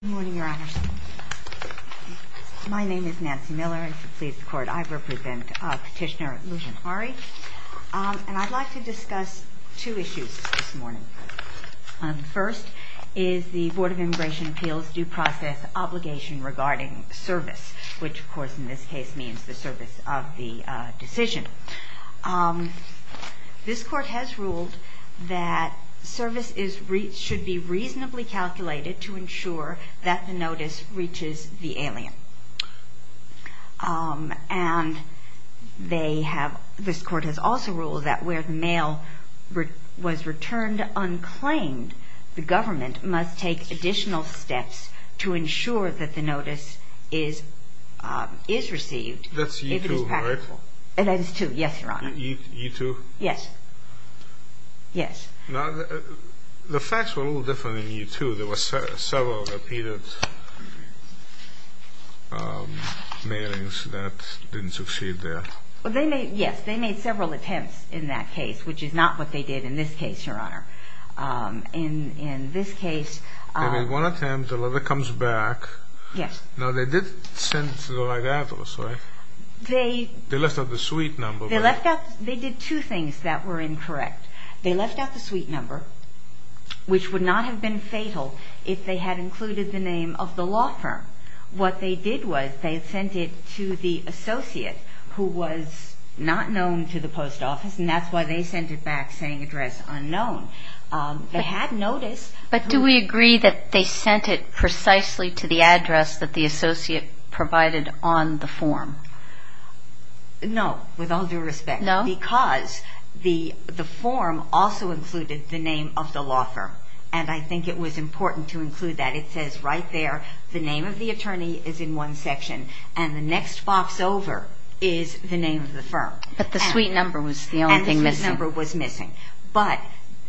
Good morning, Your Honors. My name is Nancy Miller, and to please the Court, I represent Petitioner Lusjahari, and I'd like to discuss two issues this morning. First is the Board of Immigration Appeals due process obligation regarding service, which of course in this case means the service of the decision. This Court has ruled that service should be reasonably calculated to ensure that the notice reaches the alien. And this Court has also ruled that where the mail was returned unclaimed, the government must take additional steps to ensure that the notice is received. That's E-2, right? That's E-2, yes, Your Honor. E-2? Yes. Yes. Now, the facts were a little different in E-2. There were several repeated mailings that didn't succeed there. Yes, they made several attempts in that case, which is not what they did in this case, Your Honor. In this case... They made one attempt, the letter comes back. Yes. No, they did send the right address, right? They... They left out the suite number, right? They left out... They did two things that were incorrect. They left out the suite number, which would not have been fatal if they had included the name of the law firm. What they did was they sent it to the associate who was not known to the post office, and that's why they sent it back saying address unknown. They had notice... But do we agree that they sent it precisely to the address that the associate provided on the form? No, with all due respect. No? Because the form also included the name of the law firm, and I think it was important to include that. It says right there the name of the attorney is in one section, and the next box over is the name of the firm. But the suite number was the only thing missing. But,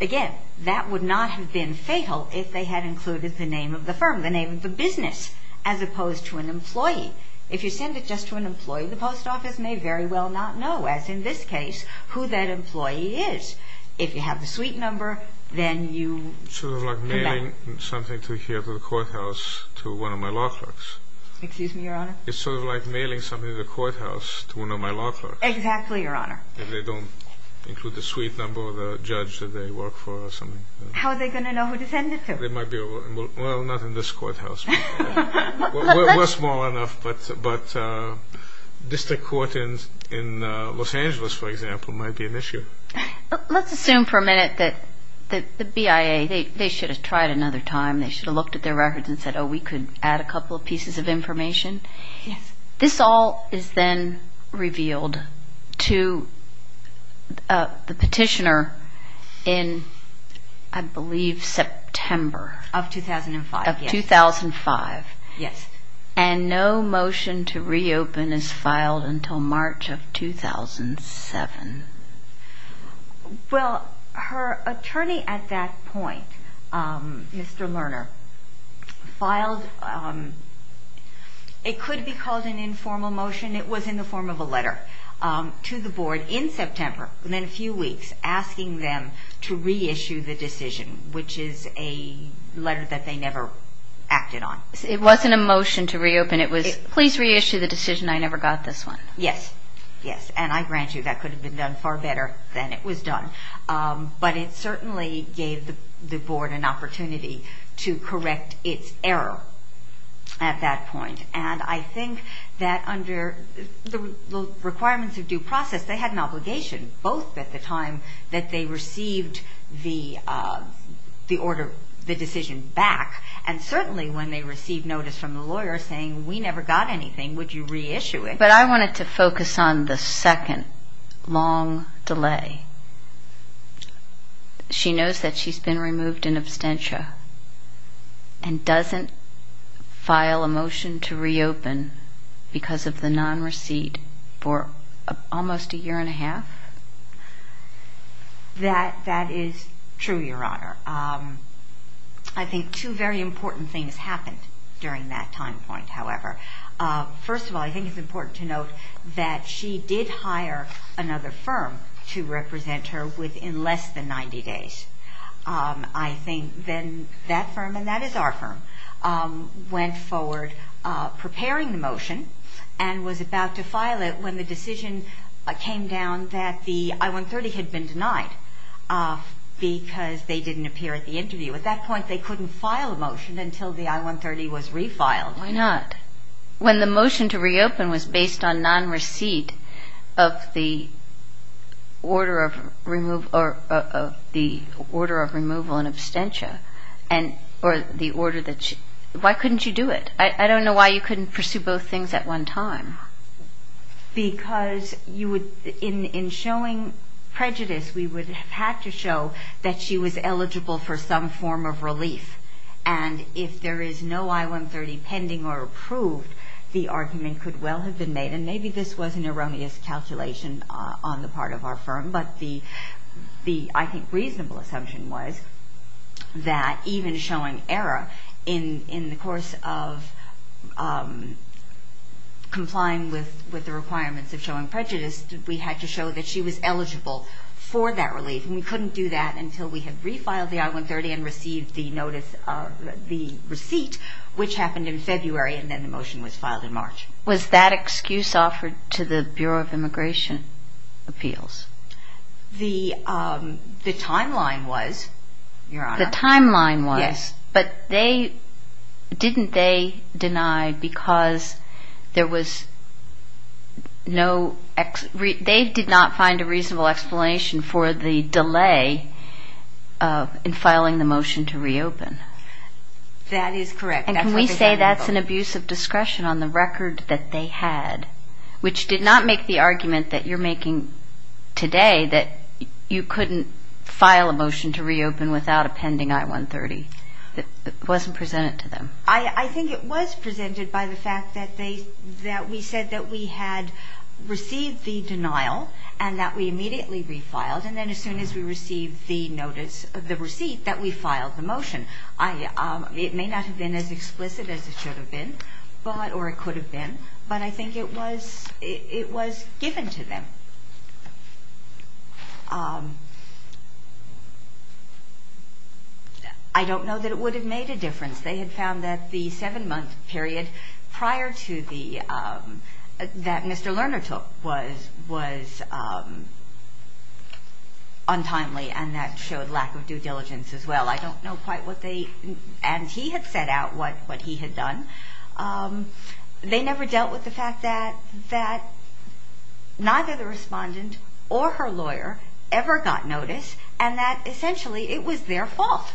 again, that would not have been fatal if they had included the name of the firm, the name of the business, as opposed to an employee. If you send it just to an employee, the post office may very well not know, as in this case, who that employee is. If you have the suite number, then you... Sort of like mailing something to here to the courthouse to one of my law clerks. Excuse me, Your Honor? It's sort of like mailing something to the courthouse to one of my law clerks. Exactly, Your Honor. If they don't include the suite number or the judge that they work for or something. How are they going to know who to send it to? Well, not in this courthouse. We're small enough, but district court in Los Angeles, for example, might be an issue. Let's assume for a minute that the BIA, they should have tried another time. They should have looked at their records and said, oh, we could add a couple of pieces of information. Yes. This all is then revealed to the petitioner in, I believe, September. Of 2005. Of 2005. Yes. And no motion to reopen is filed until March of 2007. Well, her attorney at that point, Mr. Lerner, filed, it could be called an informal motion, it was in the form of a letter to the board in September, within a few weeks, asking them to reissue the decision, which is a letter that they never acted on. It wasn't a motion to reopen, it was, please reissue the decision, I never got this one. Yes. Yes. And I grant you that could have been done far better than it was done. But it certainly gave the board an opportunity to correct its error at that point. And I think that under the requirements of due process, they had an obligation, both at the time that they received the order, the decision back, and certainly when they received notice from the lawyer saying we never got anything, would you reissue it? Okay, but I wanted to focus on the second long delay. She knows that she's been removed in absentia and doesn't file a motion to reopen because of the non-receipt for almost a year and a half? That is true, Your Honor. I think two very important things happened during that time point, however. First of all, I think it's important to note that she did hire another firm to represent her within less than 90 days. I think then that firm, and that is our firm, went forward preparing the motion and was about to file it when the decision came down that the I-130 had been denied because they didn't appear at the interview. At that point, they couldn't file a motion until the I-130 was refiled. Why not? When the motion to reopen was based on non-receipt of the order of removal in absentia, why couldn't you do it? I don't know why you couldn't pursue both things at one time. Because in showing prejudice, we would have had to show that she was eligible for some form of relief. And if there is no I-130 pending or approved, the argument could well have been made, and maybe this was an erroneous calculation on the part of our firm, but the, I think, reasonable assumption was that even showing error, in the course of complying with the requirements of showing prejudice, we had to show that she was eligible for that relief. And we couldn't do that until we had refiled the I-130 and received the notice of the receipt, which happened in February, and then the motion was filed in March. Was that excuse offered to the Bureau of Immigration Appeals? The timeline was, Your Honor. The timeline was. Yes. But didn't they deny because there was no, they did not find a reasonable explanation for the delay in filing the motion to reopen? That is correct. And can we say that's an abuse of discretion on the record that they had, which did not make the argument that you're making today, that you couldn't file a motion to reopen without a pending I-130? It wasn't presented to them. I think it was presented by the fact that we said that we had received the denial and that we immediately refiled, and then as soon as we received the notice of the receipt that we filed the motion. It may not have been as explicit as it should have been, or it could have been, but I think it was given to them. I don't know that it would have made a difference. They had found that the seven-month period prior to the, that Mr. Lerner took was untimely, and that showed lack of due diligence as well. I don't know quite what they, and he had set out what he had done. They never dealt with the fact that neither the respondent or her lawyer ever got notice, and that essentially it was their fault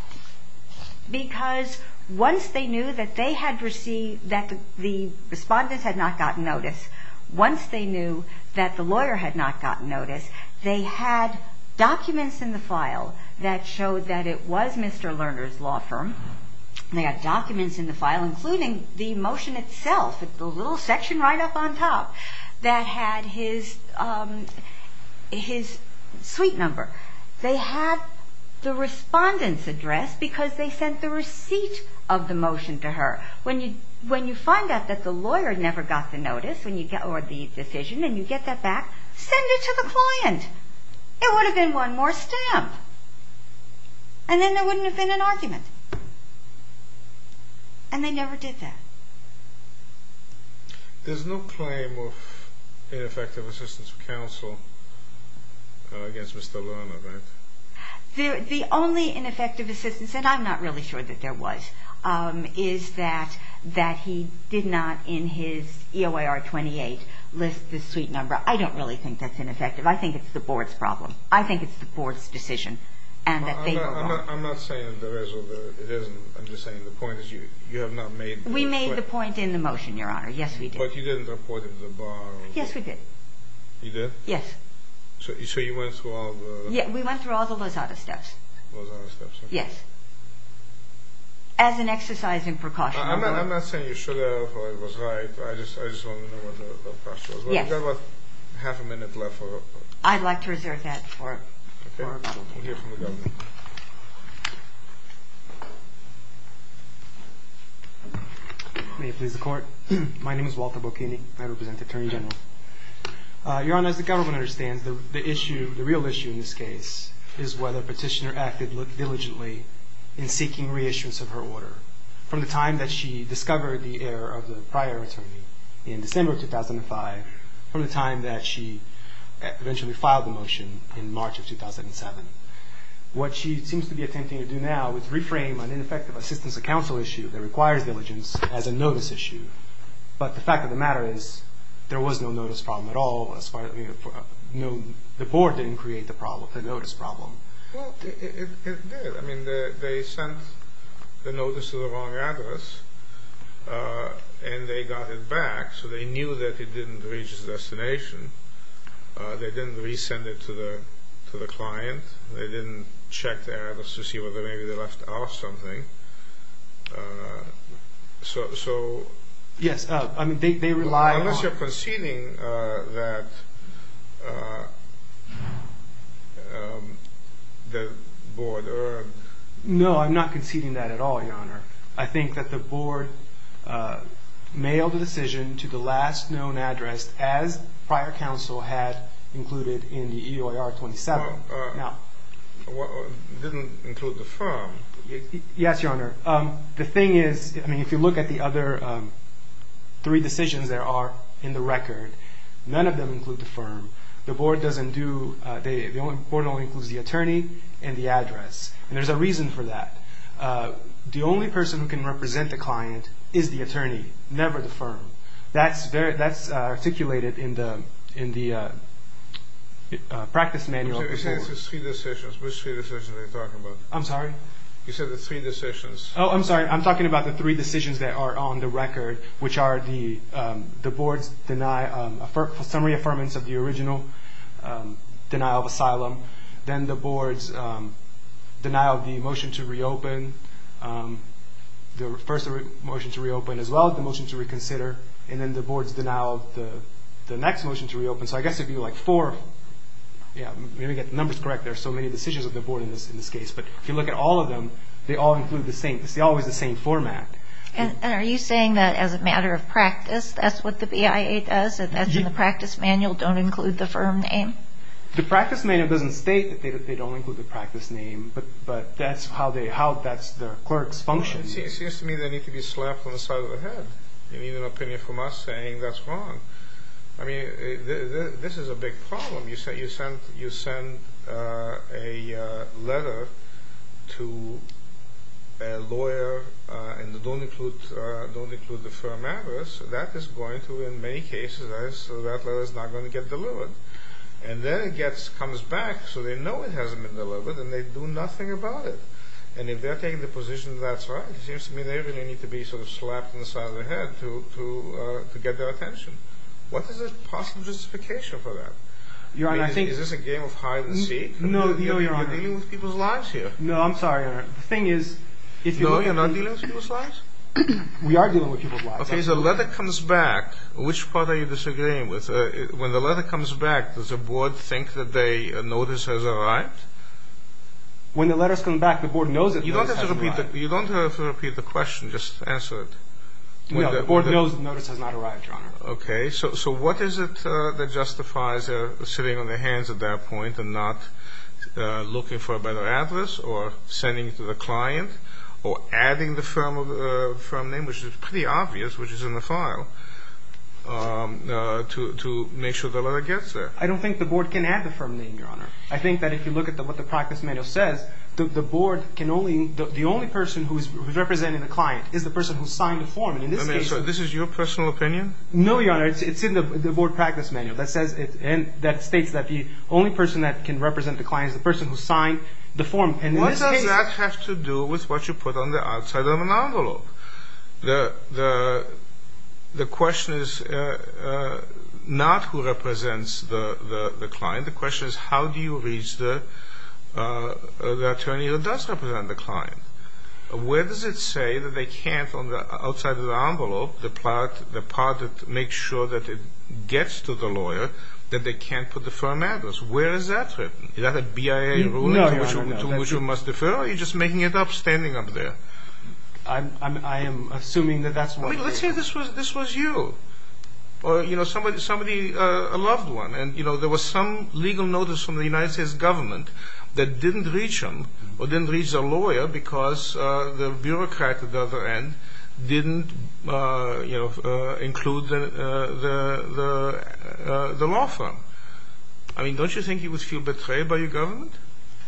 because once they knew that they had received, that the respondent had not gotten notice, once they knew that the lawyer had not gotten notice, they had documents in the file that showed that it was Mr. Lerner's law firm. They had documents in the file including the motion itself, the little section right up on top that had his suite number. They had the respondent's address because they sent the receipt of the motion to her. When you find out that the lawyer never got the notice or the decision and you get that back, send it to the client. It would have been one more stamp, and then there wouldn't have been an argument, and they never did that. There's no claim of ineffective assistance of counsel against Mr. Lerner, right? The only ineffective assistance, and I'm not really sure that there was, is that he did not in his EOIR 28 list the suite number. I don't really think that's ineffective. I think it's the board's problem. I think it's the board's decision and that they were wrong. I'm not saying that there is or there isn't. I'm just saying the point is you have not made the switch. We made the point in the motion, Your Honor. Yes, we did. But you didn't report it to the bar. Yes, we did. You did? Yes. So you went through all the… Yeah, we went through all the Lozada steps. Lozada steps, okay. Yes. As an exercise in precaution. I'm not saying you should have or it was right. I just want to know what the precaution was. Yes. We've got about half a minute left. I'd like to reserve that for… Okay, we'll hear from the government. May it please the Court. My name is Walter Bocchini. I represent the Attorney General. Your Honor, as the government understands, the issue, the real issue in this case, is whether Petitioner acted diligently in seeking reissuance of her order. From the time that she discovered the error of the prior attorney, in December of 2005, from the time that she eventually filed the motion in March of 2007, what she seems to be attempting to do now is reframe an ineffective assistance of counsel issue that requires diligence as a notice issue. But the fact of the matter is, there was no notice problem at all. The Board didn't create the problem, the notice problem. Well, it did. I mean, they sent the notice to the wrong address and they got it back, so they knew that it didn't reach its destination. They didn't resend it to the client. They didn't check the address to see whether maybe they left out something. So… Yes, I mean, they rely on… Unless you're conceding that the Board earned… No, I'm not conceding that at all, Your Honor. I think that the Board mailed a decision to the last known address as prior counsel had included in the EOIR-27. Well, it didn't include the firm. Yes, Your Honor. The thing is, I mean, if you look at the other three decisions there are in the record, none of them include the firm. The Board doesn't do… The Board only includes the attorney and the address. And there's a reason for that. The only person who can represent the client is the attorney, never the firm. That's articulated in the practice manual. You said it's three decisions. Which three decisions are you talking about? I'm sorry? You said the three decisions. Oh, I'm sorry. I'm talking about the three decisions that are on the record, which are the Board's summary affirmance of the original denial of asylum, then the Board's denial of the motion to reopen, the first motion to reopen as well, the motion to reconsider, and then the Board's denial of the next motion to reopen. So I guess it would be like four. Let me get the numbers correct. There are so many decisions of the Board in this case. But if you look at all of them, they all include the same. It's always the same format. And are you saying that as a matter of practice that's what the BIA does and that's in the practice manual don't include the firm name? The practice manual doesn't state that they don't include the practice name, but that's how the clerks function. It seems to me they need to be slapped on the side of the head. They need an opinion from us saying that's wrong. I mean, this is a big problem. You send a letter to a lawyer and don't include the firm address. That is going to, in many cases, that letter is not going to get delivered. And then it comes back so they know it hasn't been delivered and they do nothing about it. And if they're taking the position that's right, it seems to me they really need to be slapped on the side of the head to get their attention. What is the possible justification for that? Is this a game of hide and seek? No, Your Honor. You're dealing with people's lives here. No, I'm sorry, Your Honor. No, you're not dealing with people's lives? We are dealing with people's lives. Okay, so the letter comes back. Which part are you disagreeing with? When the letter comes back, does the board think that a notice has arrived? When the letter comes back, the board knows it has not arrived. You don't have to repeat the question. Just answer it. No, the board knows the notice has not arrived, Your Honor. Okay, so what is it that justifies sitting on their hands at that point and not looking for a better address or sending it to the client or adding the firm name, which is pretty obvious, which is in the file, to make sure the letter gets there? I don't think the board can add the firm name, Your Honor. I think that if you look at what the practice manual says, the board can only, the only person who is representing the client is the person who signed the form. So this is your personal opinion? No, Your Honor, it's in the board practice manual that states that the only person that can represent the client is the person who signed the form. What does that have to do with what you put on the outside of an envelope? The question is not who represents the client. The question is how do you reach the attorney that does represent the client? Where does it say that they can't, on the outside of the envelope, the part that makes sure that it gets to the lawyer, that they can't put the firm address? Where is that written? Is that a BIA ruling to which you must defer or are you just making it up, standing up there? I am assuming that that's what it is. Let's say this was you, or somebody, a loved one, and there was some legal notice from the United States government that didn't reach them, or didn't reach their lawyer because the bureaucrat at the other end didn't include the law firm. Don't you think you would feel betrayed by your government?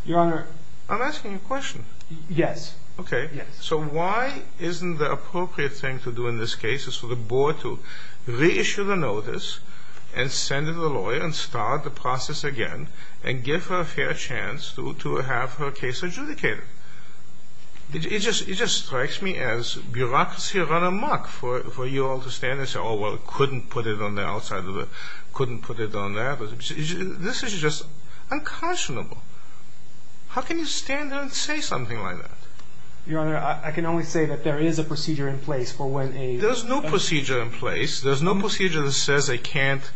Your Honor... I'm asking you a question. Yes. Okay. So why isn't the appropriate thing to do in this case is for the board to reissue the notice and send it to the lawyer and start the process again and give her a fair chance to have her case adjudicated? It just strikes me as bureaucracy run amok for you all to stand there and say, oh, well, couldn't put it on the outside of the... couldn't put it on that... This is just unconscionable. How can you stand there and say something like that? Your Honor, I can only say that there is a procedure in place for when a... There's no procedure in place. There's no procedure that says I can't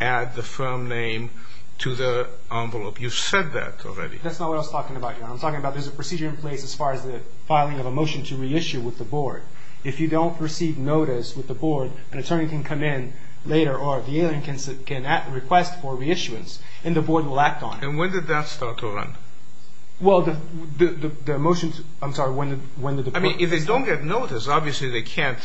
add the firm name to the envelope. You've said that already. That's not what I was talking about, Your Honor. I'm talking about there's a procedure in place as far as the filing of a motion to reissue with the board. If you don't receive notice with the board, an attorney can come in later, or the alien can request for reissuance, and the board will act on it. And when did that start to run? Well, the motions... I'm sorry, when did the board... I mean, if they don't get notice, obviously they can't...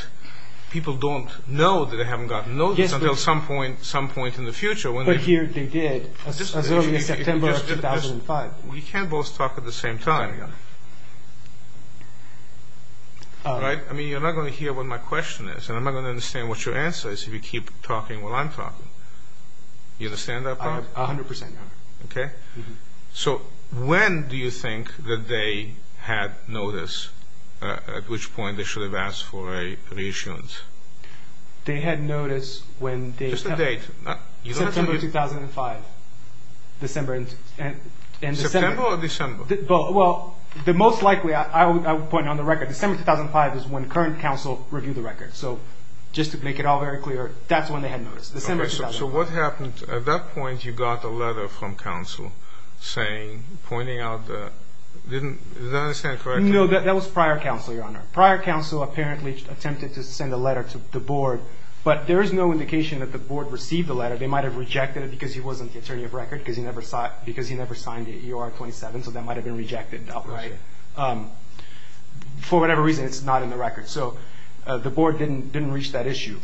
People don't know that they haven't gotten notice until some point in the future. But here they did, as early as September of 2005. We can't both talk at the same time, Your Honor. All right? I mean, you're not going to hear what my question is, and I'm not going to understand what your answer is if you keep talking while I'm talking. You understand that part? A hundred percent, Your Honor. Okay. So when do you think that they had notice, at which point they should have asked for a reissuance? They had notice when they... Just the date. September 2005. December and... September or December? Well, the most likely... I would point on the record. December 2005 is when current counsel reviewed the record. So just to make it all very clear, that's when they had notice, December 2005. So what happened? At that point, you got a letter from counsel pointing out that... Is that what I'm saying correctly? No, that was prior counsel, Your Honor. Prior counsel apparently attempted to send a letter to the board, but there is no indication that the board received the letter. They might have rejected it because he wasn't the attorney of record, because he never signed the EOR 27, so that might have been rejected outright. For whatever reason, it's not in the record. So the board didn't reach that issue.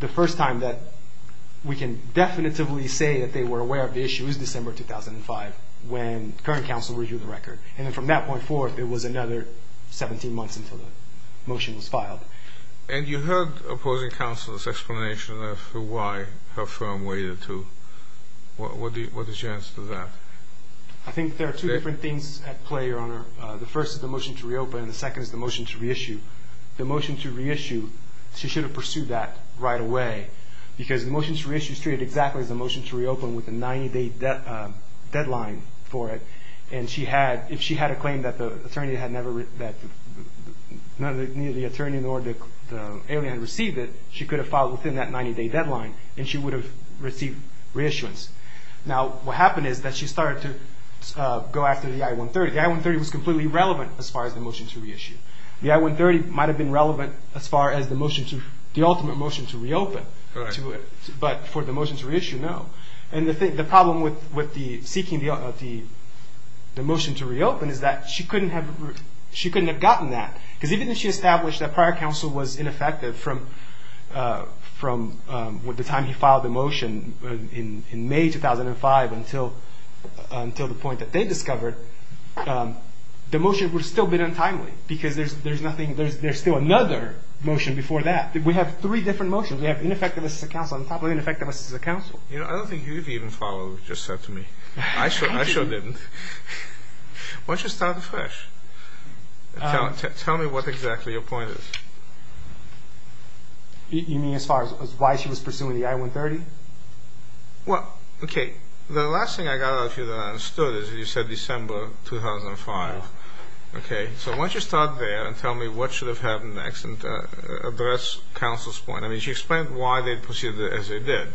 The first time that we can definitively say that they were aware of the issue is December 2005, when current counsel reviewed the record. And then from that point forward, it was another 17 months until the motion was filed. And you heard opposing counsel's explanation of why her firm waited to... What is your answer to that? I think there are two different things at play, Your Honor. The first is the motion to reopen, and the second is the motion to reissue. The motion to reissue, she should have pursued that right away, because the motion to reissue is treated exactly as the motion to reopen with a 90-day deadline for it. And if she had a claim that neither the attorney nor the alien had received it, she could have filed within that 90-day deadline, and she would have received reissuance. Now, what happened is that she started to go after the I-130. The I-130 was completely irrelevant as far as the motion to reissue. The I-130 might have been relevant as far as the ultimate motion to reopen, but for the motion to reissue, no. And the problem with seeking the motion to reopen is that she couldn't have gotten that, because even if she established that prior counsel was ineffective from the time he filed the motion in May 2005 until the point that they discovered, the motion would have still been untimely, because there's still another motion before that. We have three different motions. We have ineffective as a counsel on top of ineffective as a counsel. You know, I don't think you've even followed what you just said to me. I sure didn't. Why don't you start afresh? Tell me what exactly your point is. You mean as far as why she was pursuing the I-130? Well, okay, the last thing I got out of you that I understood is you said December 2005. Okay, so why don't you start there and tell me what should have happened next and address counsel's point. I mean, she explained why they proceeded as they did.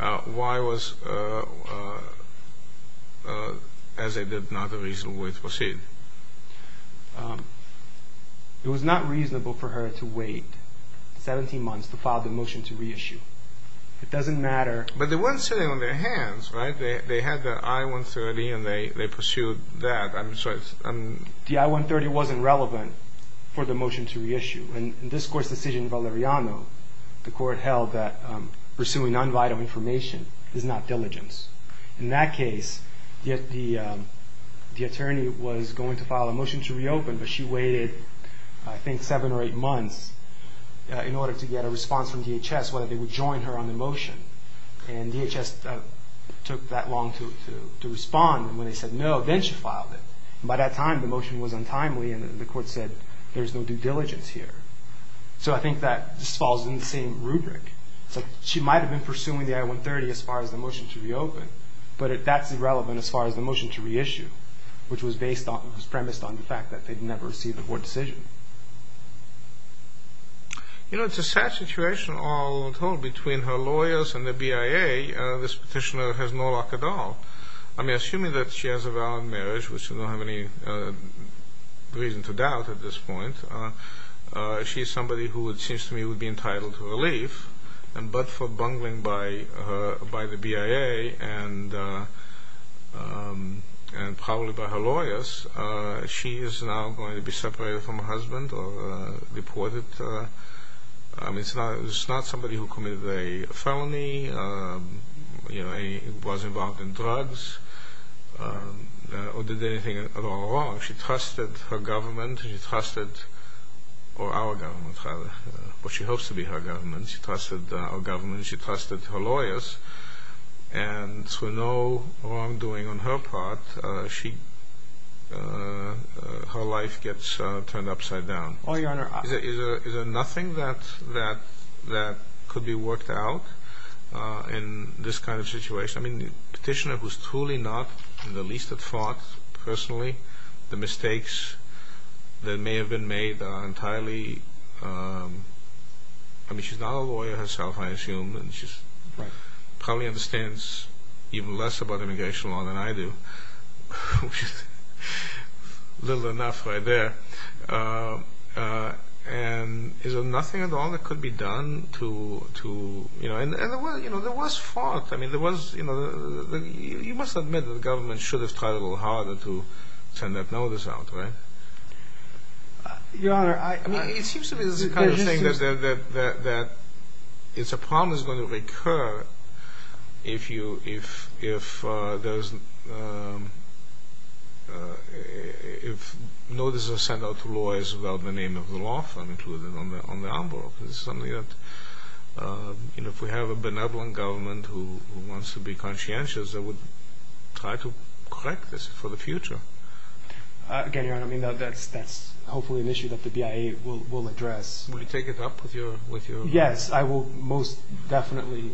Why was as they did not a reasonable way to proceed? It was not reasonable for her to wait 17 months to file the motion to reissue. It doesn't matter. But they weren't sitting on their hands, right? They had the I-130 and they pursued that. The I-130 wasn't relevant for the motion to reissue. In this Court's decision in Valeriano, the Court held that pursuing non-vital information is not diligence. In that case, the attorney was going to file a motion to reopen, but she waited I think seven or eight months in order to get a response from DHS whether they would join her on the motion. And DHS took that long to respond. And when they said no, then she filed it. By that time, the motion was untimely and the Court said there's no due diligence here. So I think that this falls in the same rubric. She might have been pursuing the I-130 as far as the motion to reopen, but that's irrelevant as far as the motion to reissue, which was premised on the fact that they'd never received a court decision. You know, it's a sad situation all told. Between her lawyers and the BIA, this petitioner has no luck at all. I mean, assuming that she has a valid marriage, which I don't have any reason to doubt at this point, she's somebody who it seems to me would be entitled to relief, but for bungling by the BIA and probably by her lawyers, she is now going to be separated from her husband or reported. I mean, it's not somebody who committed a felony, you know, was involved in drugs, or did anything at all wrong. She trusted her government. She trusted our government, what she hopes to be her government. She trusted our government. She trusted her lawyers. And through no wrongdoing on her part, her life gets turned upside down. Oh, Your Honor. Is there nothing that could be worked out in this kind of situation? I mean, the petitioner was truly not in the least at fault personally. The mistakes that may have been made are entirely—I mean, she's not a lawyer herself, I assume. She probably understands even less about immigration law than I do, which is little enough right there. And is there nothing at all that could be done to—you know, there was fault. I mean, there was—you must admit that the government should have tried a little harder to send that notice out, right? Your Honor, I— It's a problem that's going to recur if there's—if notices are sent out to lawyers without the name of the law firm included on the envelope. It's something that, you know, if we have a benevolent government who wants to be conscientious, they would try to correct this for the future. Again, Your Honor, I mean, that's hopefully an issue that the BIA will address. Will you take it up with your— Yes, I will most definitely.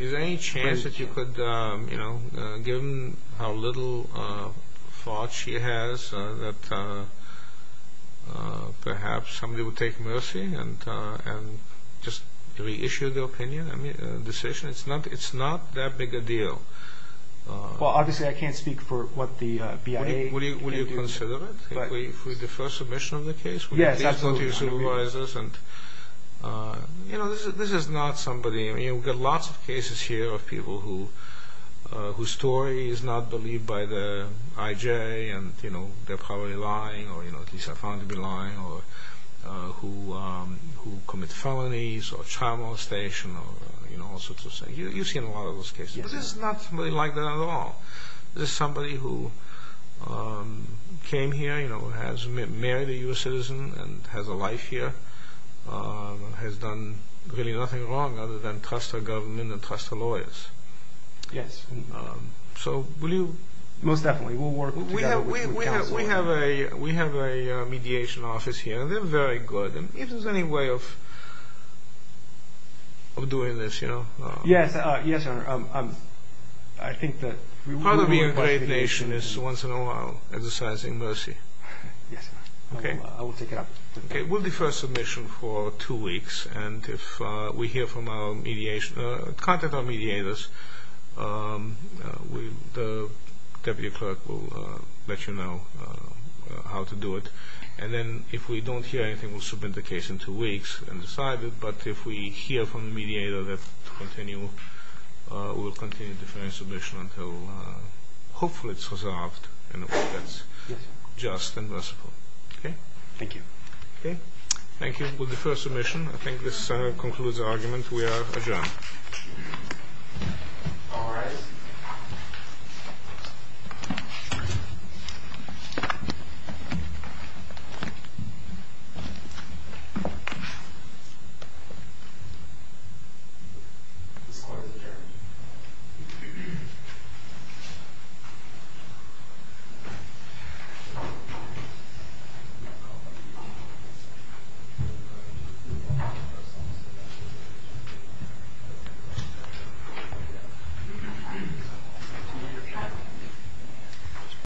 Is there any chance that you could, you know, given how little fault she has, that perhaps somebody would take mercy and just reissue the opinion, the decision? It's not that big a deal. Well, obviously I can't speak for what the BIA can do. Will you consider it? If we defer submission of the case? Yes, absolutely. You know, this is not somebody—I mean, we've got lots of cases here of people whose story is not believed by the IJ, and, you know, they're probably lying, or at least have found to be lying, or who commit felonies or child molestation or, you know, all sorts of things. You've seen a lot of those cases. But this is not somebody like that at all. This is somebody who came here, you know, has married a U.S. citizen and has a life here, has done really nothing wrong other than trust her government and trust her lawyers. Yes. So will you— Most definitely. We'll work together with the counsel. We have a mediation office here, and they're very good. And if there's any way of doing this, you know— Yes. Yes, Your Honor. I think that— Part of being a great nation is once in a while exercising mercy. Yes, Your Honor. Okay. I will take it up. Okay. We'll defer submission for two weeks, and if we hear from our mediation—contact our mediators, the deputy clerk will let you know how to do it. And then if we don't hear anything, we'll submit the case in two weeks and decide it. But if we hear from the mediator that to continue, we'll continue deferring submission until hopefully it's resolved and that's just and merciful. Okay? Thank you. Okay. Thank you. We'll defer submission. I think this concludes the argument. We are adjourned. All rise. This court is adjourned.